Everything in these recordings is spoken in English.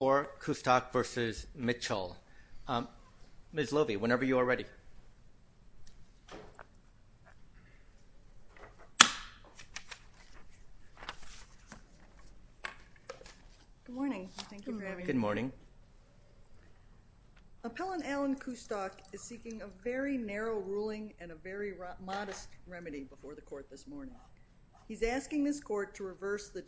or Kustok v. Mitchell. Ms. Lovie, whenever you are ready. Good morning. Thank you for having me. Good morning. Appellant Alan Kustok is seeking a very narrow ruling and a very modest remedy before the court this morning. He's asking this court to reverse the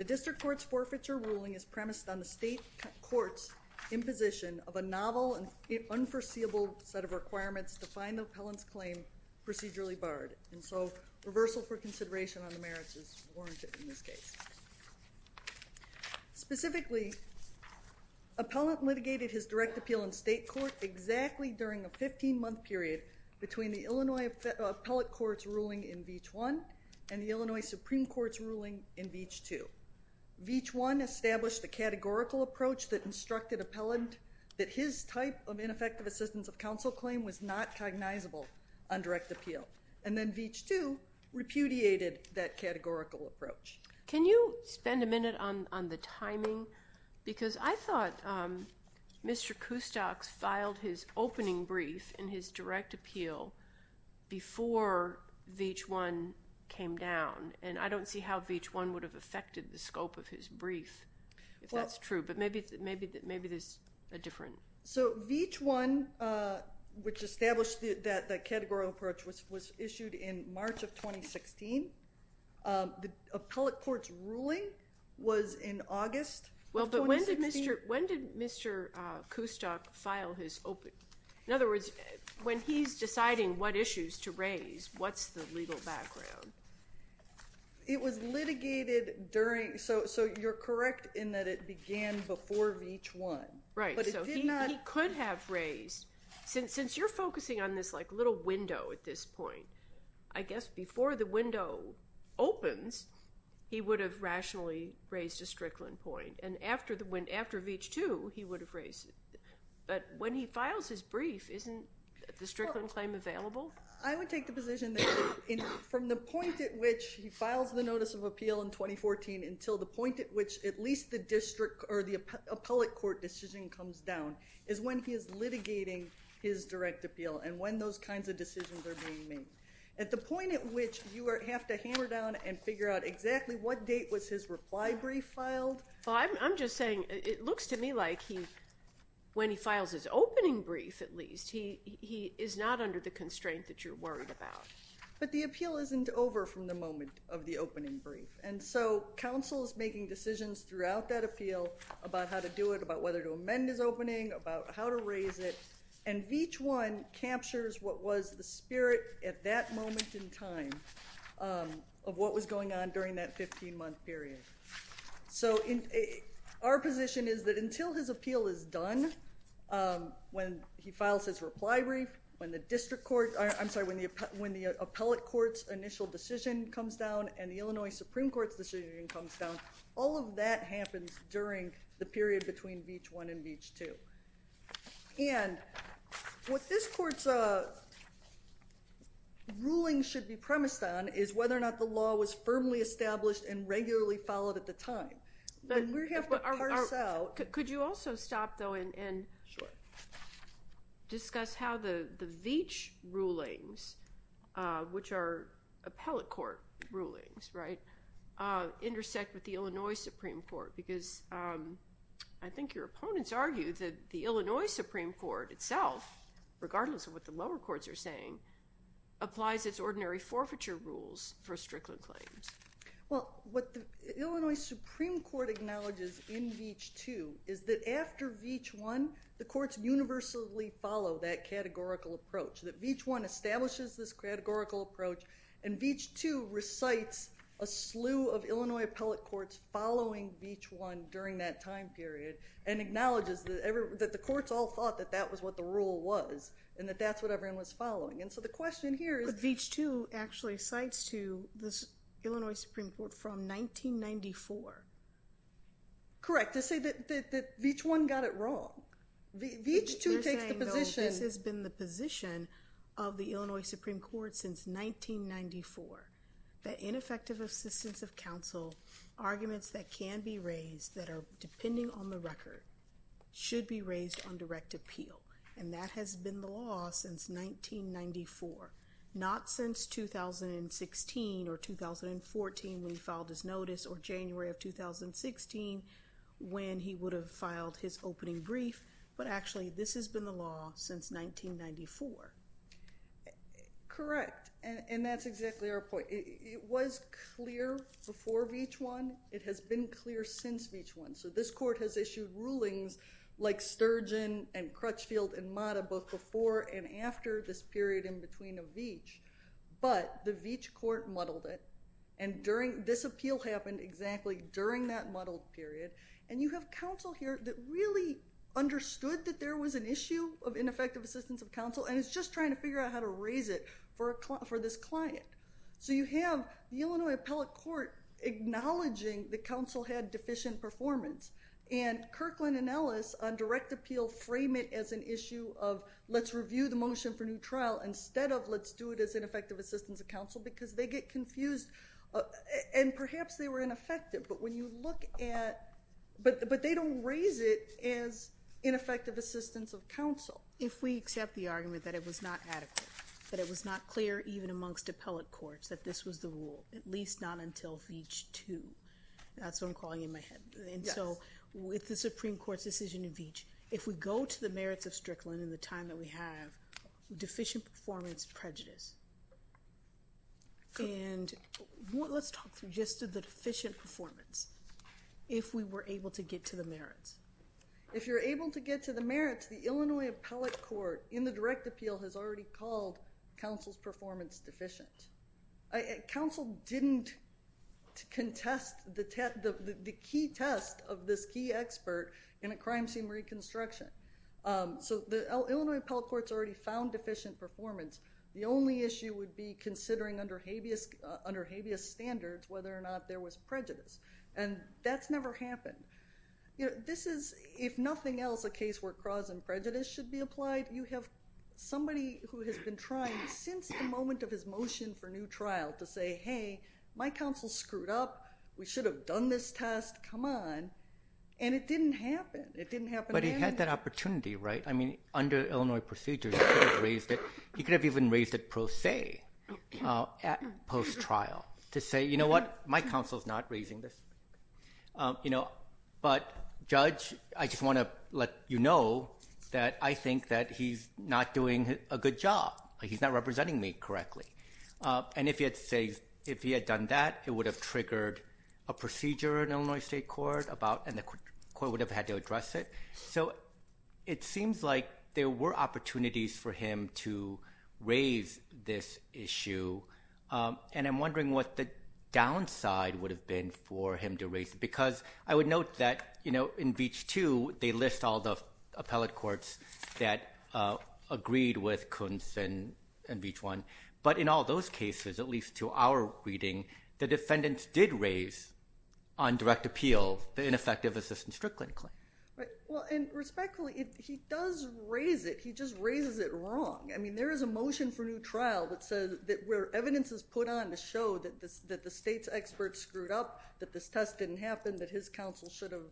The district court's forfeiture ruling is premised on the state court's imposition of a novel and unforeseeable set of requirements to find the appellant's claim procedurally barred. And so, reversal for consideration on the merits is warranted in this case. Specifically, appellant litigated his direct appeal in state court exactly during a 15-month period between the Illinois Supreme Court's ruling in Veech 2. Veech 1 established the categorical approach that instructed appellant that his type of ineffective assistance of counsel claim was not cognizable on direct appeal. And then Veech 2 repudiated that categorical approach. Can you spend a minute on the timing? Because I thought Mr. Kustok filed his opening brief in his direct appeal before Veech 1 came down. And I don't see how Veech 1 would have affected the scope of his brief, if that's true. But maybe there's a different So Veech 1, which established that the categorical approach was issued in March of 2016. The appellate court's ruling was in August of 2016. When did Mr. Kustok file his opening? In other words, when he's deciding what issues to raise, what's the legal background? It was litigated during, so you're correct in that it began before Veech 1. Right, so he could have raised, since you're focusing on this like little window at this point, I guess before the window opens, he would have rationally raised a Strickland point. And after Veech 2, he would have raised it. But when he files his brief, isn't the Strickland claim available? I would take the position that from the point at which he files the notice of appeal in 2014 until the point at which at least the district or the appellate court decision comes down is when he is litigating his direct appeal and when those kinds of decisions are being made. At the point at which you have to sit down and figure out exactly what date was his reply brief filed? I'm just saying it looks to me like he, when he files his opening brief at least, he is not under the constraint that you're worried about. But the appeal isn't over from the moment of the opening brief, and so counsel is making decisions throughout that appeal about how to do it, about whether to amend his opening, about how to raise it, and Veech 1 captures what was the spirit at that moment in time of what was going on during that 15-month period. So our position is that until his appeal is done, when he files his reply brief, when the district court, I'm sorry, when the appellate court's initial decision comes down and the Illinois Supreme Court's decision comes down, all of that happens during the period between Veech 1 and Veech 2. And what this court's ruling should be premised on is whether or not the law was firmly established and regularly followed at the time. Could you also stop, though, and discuss how the Veech rulings, which are appellate court rulings, right, intersect with the Illinois Supreme Court because I think your opponents argue that the Illinois Supreme Court itself, regardless of what the lower courts are saying, applies its ordinary forfeiture rules for Strickland claims. Well, what the Illinois Supreme Court acknowledges in Veech 2 is that after Veech 1, the courts universally follow that categorical approach, that Veech 1 establishes this categorical approach, and Veech 2 recites a slew of Illinois Veech 1 during that time period and acknowledges that the courts all thought that that was what the rule was and that that's what everyone was following. And so the question here is- But Veech 2 actually cites to the Illinois Supreme Court from 1994. Correct. To say that Veech 1 got it wrong. Veech 2 takes the position- You're saying, though, this has been the position of the Illinois Supreme Court since 1994, that ineffective assistance of counsel, arguments that can be raised that are depending on the record, should be raised on direct appeal. And that has been the law since 1994, not since 2016 or 2014 when he filed his notice or January of 2016 when he would have filed his opening brief, but actually this has been the law since 1994. Correct. And that's exactly our point. It was clear before Veech 1. It has been clear since Veech 1. So this court has issued rulings like Sturgeon and Crutchfield and Mata both before and after this period in between a Veech, but the Veech court muddled it, and this appeal happened exactly during that muddled period. And you have counsel here that really understood that there was an issue of ineffective assistance of counsel and is just trying to figure out how to raise it for this client. So you have the Illinois Appellate Court acknowledging the counsel had deficient performance, and Kirkland and Ellis on direct appeal frame it as an issue of let's review the motion for new trial instead of let's do it as ineffective assistance of counsel because they get confused, and perhaps they were ineffective, but when you look at, but they don't raise it as ineffective assistance of counsel. If we accept the argument that it was not adequate, that it was not clear even amongst appellate courts that this was the rule, at least not until Veech 2. That's what I'm calling in my head. And so with the Supreme Court's decision in Veech, if we go to the merits of Strickland in the time that we have, deficient performance prejudice. And let's talk through just the deficient performance if we were able to get to the merits. If you're able to get to the merits, the Illinois Appellate Court in the case found deficient performance deficient. Counsel didn't contest the key test of this key expert in a crime scene reconstruction. So the Illinois Appellate Court's already found deficient performance. The only issue would be considering under habeas standards whether or not there was prejudice, and that's never happened. This is, if nothing else, a case where cause and prejudice should be applied. You have somebody who has been trying since the moment of his motion for new trial to say, hey, my counsel screwed up. We should have done this test. Come on. And it didn't happen. It didn't happen then. But he had that opportunity, right? I mean, under Illinois procedures, he could have raised it. He could have even raised it pro se at post-trial to say, you know what? My counsel's not raising this. But, Judge, I just want to let you know that I think that he's not doing a good job. He's not representing me correctly. And if he had done that, it would have triggered a procedure in Illinois State Court and the court would have had to address it. So it seems like there were opportunities for him to raise this issue, and I'm happy for him to raise it. Because I would note that, you know, in Beach 2, they list all the appellate courts that agreed with Kuntz and Beach 1. But in all those cases, at least to our reading, the defendants did raise on direct appeal the ineffective assistance strict claim. Right. Well, and respectfully, he does raise it. He just raises it wrong. I mean, there is a motion for new trial that says that where evidence is put on to show that the state's expert screwed up, that this test didn't happen, that his counsel should have,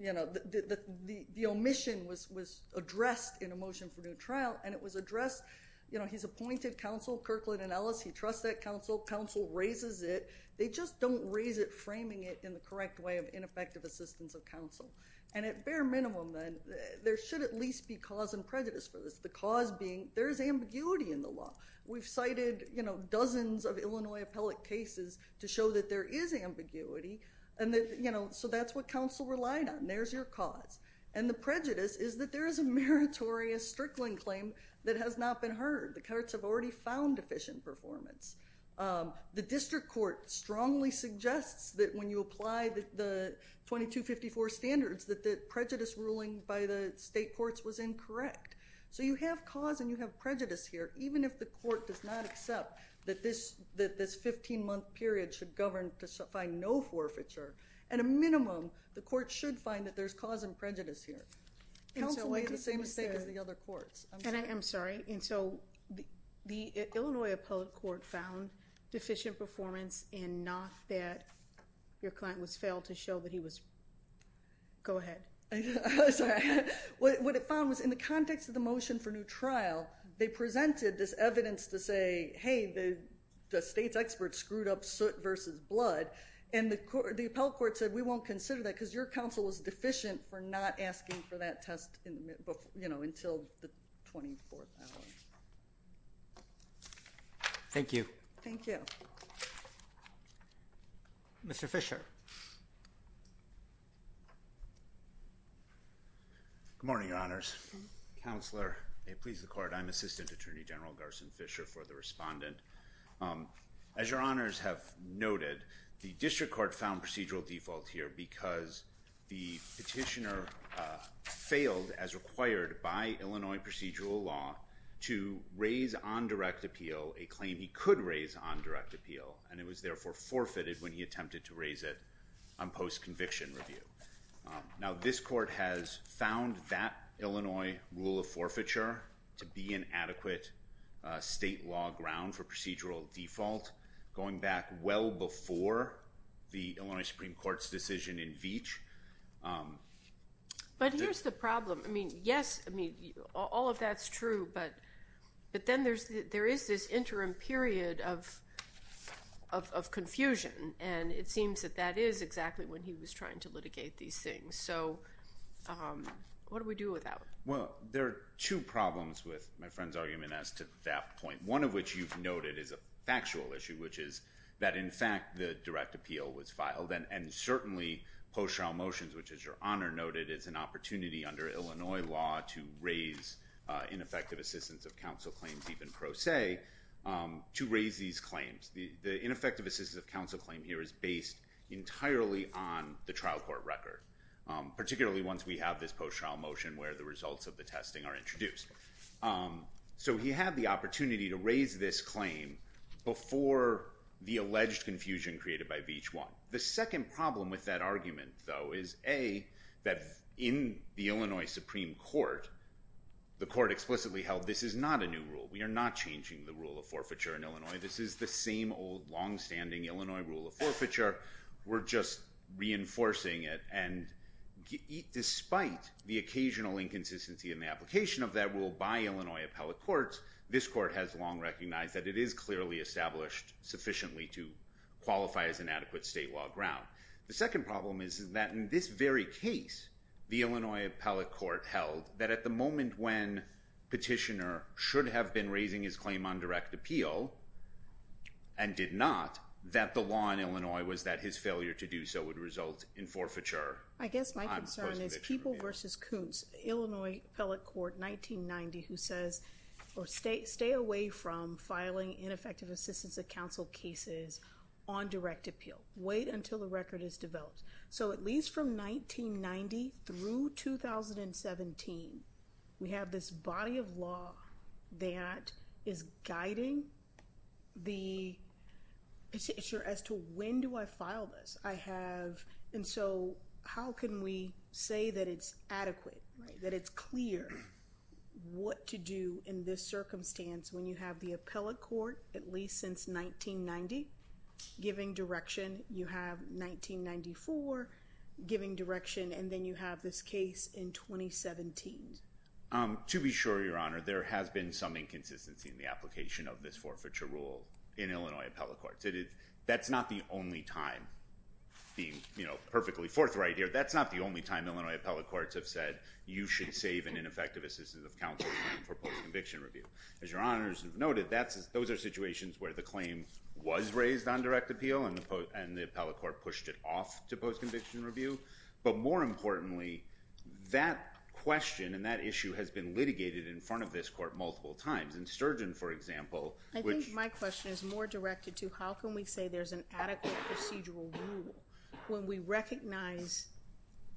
you know, the omission was addressed in a motion for new trial, and it was addressed, you know, he's appointed counsel, Kirkland and Ellis. He trusts that counsel. Counsel raises it. They just don't raise it framing it in the correct way of ineffective assistance of counsel. And at bare minimum, then, there should at least be cause and prejudice for this. The cause being there is ambiguity in the law. We've cited, you know, dozens of Illinois appellate cases to show that there is ambiguity and that, you know, so that's what counsel relied on. There's your cause. And the prejudice is that there is a meritorious strickling claim that has not been heard. The courts have already found deficient performance. The district court strongly suggests that when you apply the 2254 standards that the prejudice ruling by the state courts was incorrect. So you have cause and you have prejudice here even if the court does not accept that this 15-month period should govern to find no forfeiture. At a minimum, the court should find that there's cause and prejudice here. Counsel made the same mistake as the other courts. And I'm sorry. And so the Illinois appellate court found deficient performance and not that your client was failed to show that he was go ahead. I'm sorry. What it found was in the context of the motion for new trial, they presented this evidence to say, hey, the state's expert screwed up soot versus blood. And the appellate court said we won't consider that because your counsel was deficient for not asking for that test, you know, until the 24th hour. Thank you. Thank you. Mr. Fisher. Good morning, Your Honors. Counselor, may it please the court. I'm Assistant Attorney General Garson Fisher for the respondent. As Your Honors have noted, the district court found procedural default here because the petitioner failed as required by Illinois procedural law to raise on direct appeal a claim he could raise on direct appeal. And it was therefore forfeited when he attempted to raise it on post-conviction review. Now, this court has found that Illinois rule of forfeiture to be an adequate state law ground for procedural default, going back well before the Illinois Supreme Court's decision in Veatch. But here's the problem. I mean, yes, I mean, all of that's true, but then there is this interim period of confusion, and it seems that that is exactly when he was trying to litigate these things. So what do we do with that? Well, there are two problems with my friend's argument as to that point, one of which you've noted is a factual issue, which is that in fact the direct appeal was filed, and certainly post-trial motions, which is your honor, noted it's an opportunity under Illinois law to raise ineffective assistance of counsel claims, even pro se, to raise these claims. The ineffective assistance of counsel claim here is based entirely on the trial court record, particularly once we have this post-trial motion where the results of the testing are introduced. So he had the opportunity to raise this claim before the alleged confusion created by Veatch 1. The second problem with that argument, though, is A, that in the Illinois Supreme Court, the court explicitly held this is not a new rule. We are not changing the rule of forfeiture in Illinois. This is the same old longstanding Illinois rule of forfeiture. We're just reinforcing it, and despite the occasional inconsistency in the application of that rule by Illinois appellate courts, this court has long recognized that it is clearly established sufficiently to qualify as inadequate state law ground. The second problem is that in this very case, the Illinois appellate court held that at the moment when petitioner should have been raising his claim on direct appeal, and did not, that the law in Illinois was that his failure to do so would result in forfeiture. I guess my concern is People v. Kuntz, Illinois appellate court 1990, who says, stay away from filing ineffective assistance of counsel cases on direct appeal. Wait until the record is developed. So at least from 1990 through 2017, we have this body of law that is guiding the petitioner as to when do I file this. And so how can we say that it's adequate, that it's clear what to do in this circumstance when you have the appellate court at least since 1990 giving direction, you have 1994 giving direction, and then you have this case in 2017? To be sure, Your Honor, there has been some inconsistency in the application of this forfeiture rule in Illinois appellate courts. That's not the only time, being perfectly forthright here, that's not the only time Illinois appellate courts have said, you should save an ineffective assistance of counsel claim for post-conviction review. As Your Honors have noted, those are situations where the claim was raised on direct appeal, and the appellate court pushed it off to post-conviction review. But more importantly, that question and that issue has been litigated in front of this court multiple times. In Sturgeon, for example, which... I think my question is more directed to, how can we say there's an adequate procedural rule when we recognize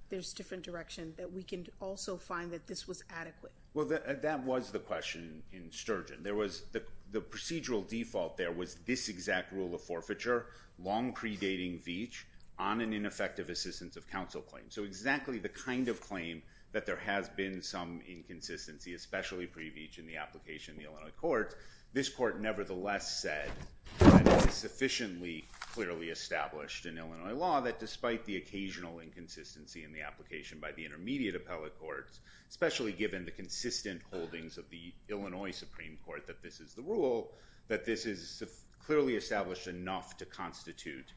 there's different direction, that we can also find that this was adequate? Well, that was the question in Sturgeon. The procedural default there was this exact rule of forfeiture, long predating Veach, on an ineffective assistance of counsel claim. So exactly the kind of claim that there has been some inconsistency, especially pre-Veach in the application in the Illinois courts, this court nevertheless said that it was sufficiently clearly established in Illinois law that despite the occasional inconsistency in the application by the intermediate appellate courts, especially given the consistent holdings of the Illinois Supreme Court that this is the rule, that this is clearly established enough to constitute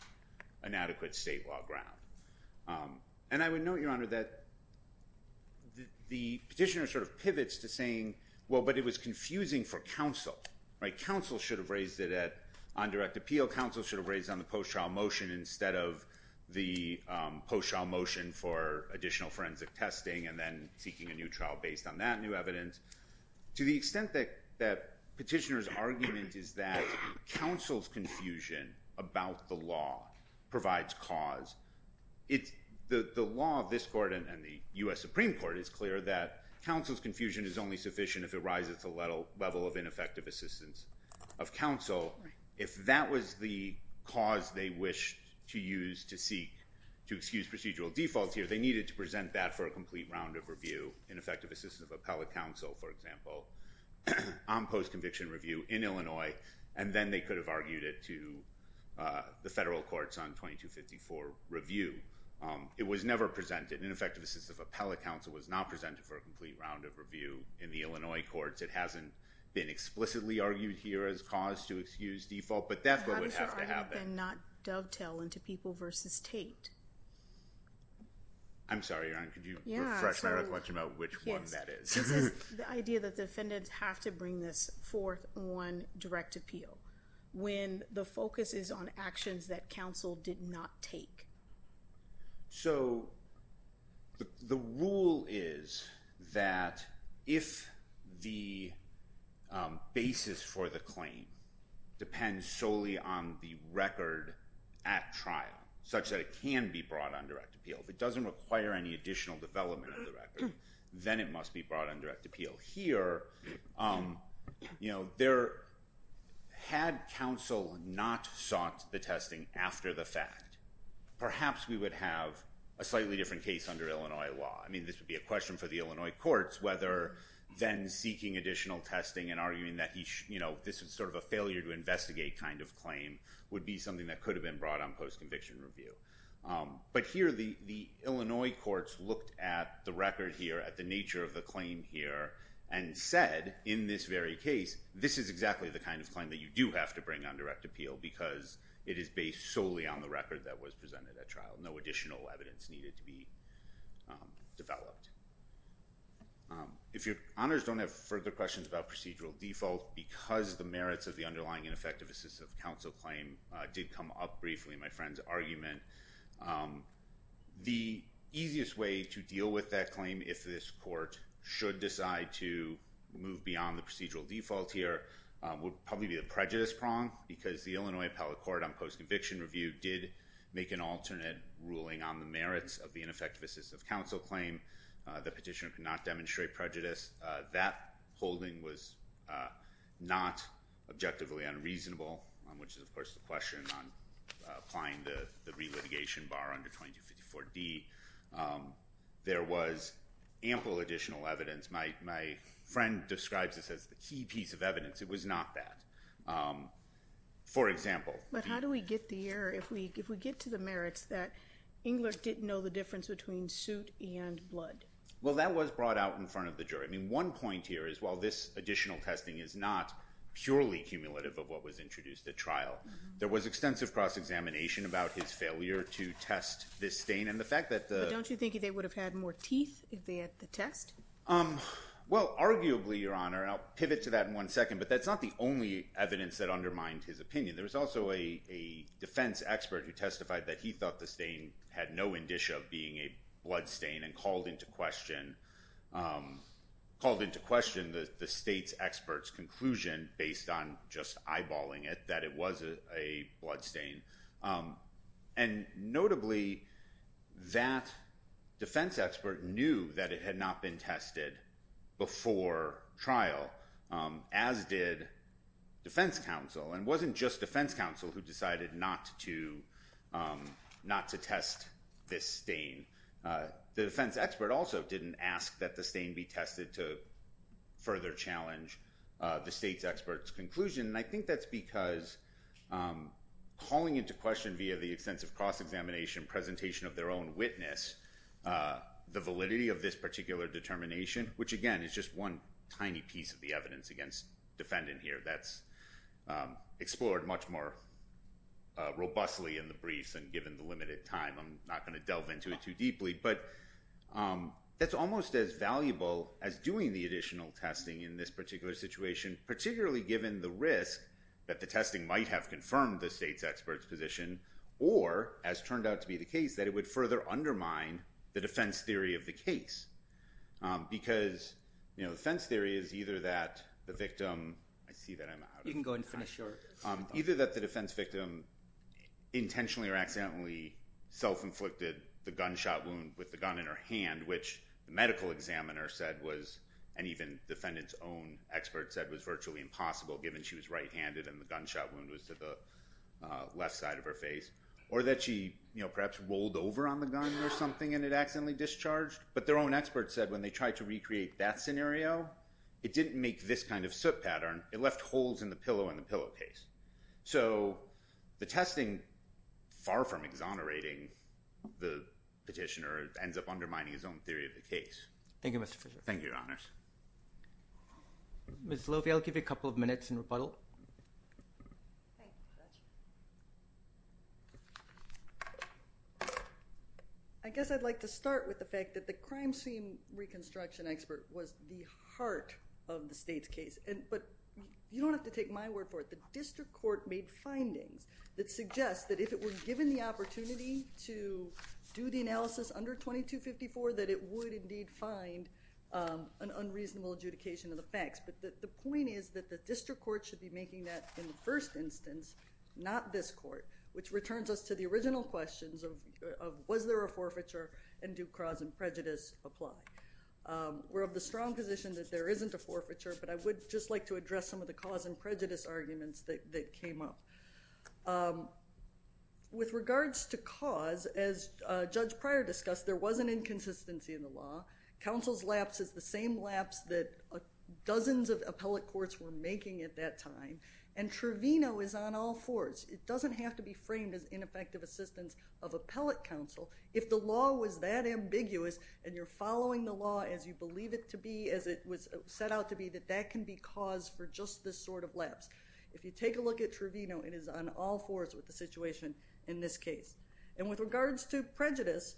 an adequate state law ground. And I would note, Your Honour, that the petitioner sort of pivots to saying, well, but it was confusing for counsel, right? Counsel should have raised it on direct appeal. Counsel should have raised it on the post-trial motion instead of the post-trial motion for additional forensic testing and then seeking a new trial based on that new evidence. To the extent that petitioner's argument is that counsel's confusion about the law provides cause, the law of this court and the U.S. Supreme Court is clear that counsel's confusion is only sufficient if it rises to a level of ineffective assistance of counsel. If that was the cause they wished to use to seek, to excuse procedural defaults here, they needed to present that for a complete round of review, ineffective assistance of appellate counsel, for example, on post-conviction review in Illinois, and then they could have argued it to the federal courts on 2254 review. It was never presented. Ineffective assistance of appellate counsel was not presented for a complete round of review in the Illinois courts. It hasn't been explicitly argued here as cause to excuse default, but that's what would have to happen. How does your argument then not dovetail into people v. Tate? I'm sorry, Your Honour. Could you refresh my recollection about which one that is? The idea that the defendants have to bring this forth on direct appeal when the focus is on actions that counsel did not take. So the rule is that if the basis for the claim depends solely on the record at trial, such that it can be brought on direct appeal, if it doesn't require any additional development of the record, then it must be brought on direct appeal. Here, had counsel not sought the testing after the fact, perhaps we would have a slightly different case under Illinois law. I mean, this would be a question for the Illinois courts whether then seeking additional testing and arguing that this is sort of a failure-to-investigate kind of claim would be something that could have been brought on post-conviction review. But here, the Illinois courts looked at the record here, at the nature of the claim here, and said, in this very case, this is exactly the kind of claim that you do have to bring on direct appeal because it is based solely on the record that was presented at trial. No additional evidence needed to be developed. If Your Honours don't have further questions about procedural default, because the merits of the underlying ineffective assistive counsel claim did come up briefly, in my friend's argument, the easiest way to deal with that claim, if this court should decide to move beyond the procedural default here, would probably be the prejudice prong because the Illinois appellate court on post-conviction review did make an alternate ruling on the merits of the ineffective assistive counsel claim. The petitioner could not demonstrate prejudice. That holding was not objectively unreasonable, which is, of course, the question on applying the relitigation bar under 2254D. There was ample additional evidence. My friend describes this as the key piece of evidence. It was not that. For example... But how do we get the error, if we get to the merits, that Engler didn't know the difference between suit and blood? Well, that was brought out in front of the jury. I mean, one point here is, while this additional testing is not purely cumulative of what was introduced at trial, there was extensive cross-examination about his failure to test this stain. But don't you think they would have had more teeth if they had the test? Well, arguably, Your Honor, and I'll pivot to that in one second, but that's not the only evidence that undermined his opinion. There was also a defense expert who testified that he thought the stain had no indicia of being a blood stain and called into question the state's expert's conclusion, based on just eyeballing it, that it was a blood stain. And notably, that defense expert knew that it had not been tested before trial, as did defense counsel. And it wasn't just defense counsel who decided not to test this stain. The defense expert also didn't ask that the stain be tested to further challenge the state's expert's conclusion. And I think that's because calling into question, via the extensive cross-examination presentation of their own witness, the validity of this particular determination, which, again, is just one tiny piece of the evidence against defendant here that's explored much more robustly in the briefs. I'm not going to delve into it too deeply, but that's almost as valuable as doing the additional testing in this particular situation, particularly given the risk that the testing might have confirmed the state's expert's position or, as turned out to be the case, that it would further undermine the defense theory of the case, I see that I'm out. The defense counsel accidentally self-inflicted the gunshot wound with the gun in her hand, which the medical examiner said was, and even the defendant's own expert said, was virtually impossible, given she was right-handed and the gunshot wound was to the left side of her face. Or that she, you know, perhaps rolled over on the gun or something and it accidentally discharged. But their own expert said, when they tried to recreate that scenario, it didn't make this kind of soot pattern. It left holes in the pillow and the pillowcase. So the testing, far from exonerating the petitioner, ends up undermining his own theory of the case. Thank you, Mr. Fischer. Thank you, Your Honors. Ms. Lovie, I'll give you a couple of minutes in rebuttal. I guess I'd like to start with the fact that the crime scene reconstruction expert was the heart of the state's case. But you don't have to take my word for it. The district court made findings that suggest that, if it were given the opportunity to do the analysis under 2254, that it would indeed find an unreasonable adjudication of the facts. But the point is that the district court should be making that, in the first instance, not this court, which returns us to the original questions of was there a forfeiture and do cause and prejudice apply. We're of the strong position that there isn't a forfeiture, but I would just like to address some of the cause and prejudice arguments that came up. With regards to cause, as Judge Pryor discussed, there was an inconsistency in the law. Counsel's lapse is the same lapse that dozens of appellate courts were making at that time. And Trevino is on all fours. It doesn't have to be framed as ineffective assistance of appellate counsel. If the law was that ambiguous and you're following the law as you believe it to be, as it was set out to be, that that can be cause for just this sort of lapse. If you take a look at Trevino, it is on all fours with the situation in this case. And with regards to prejudice,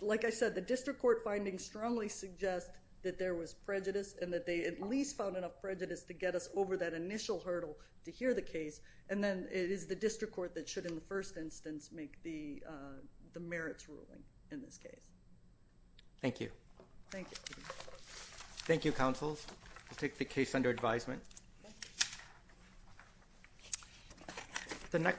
like I said, the district court findings strongly suggest that there was prejudice and that they at least found enough prejudice to get us over that initial hurdle to hear the case. And then it is the district court that should, in the first instance, make the merits ruling in this case. Thank you. Thank you. Thank you, counsel. We'll take the case under advisement.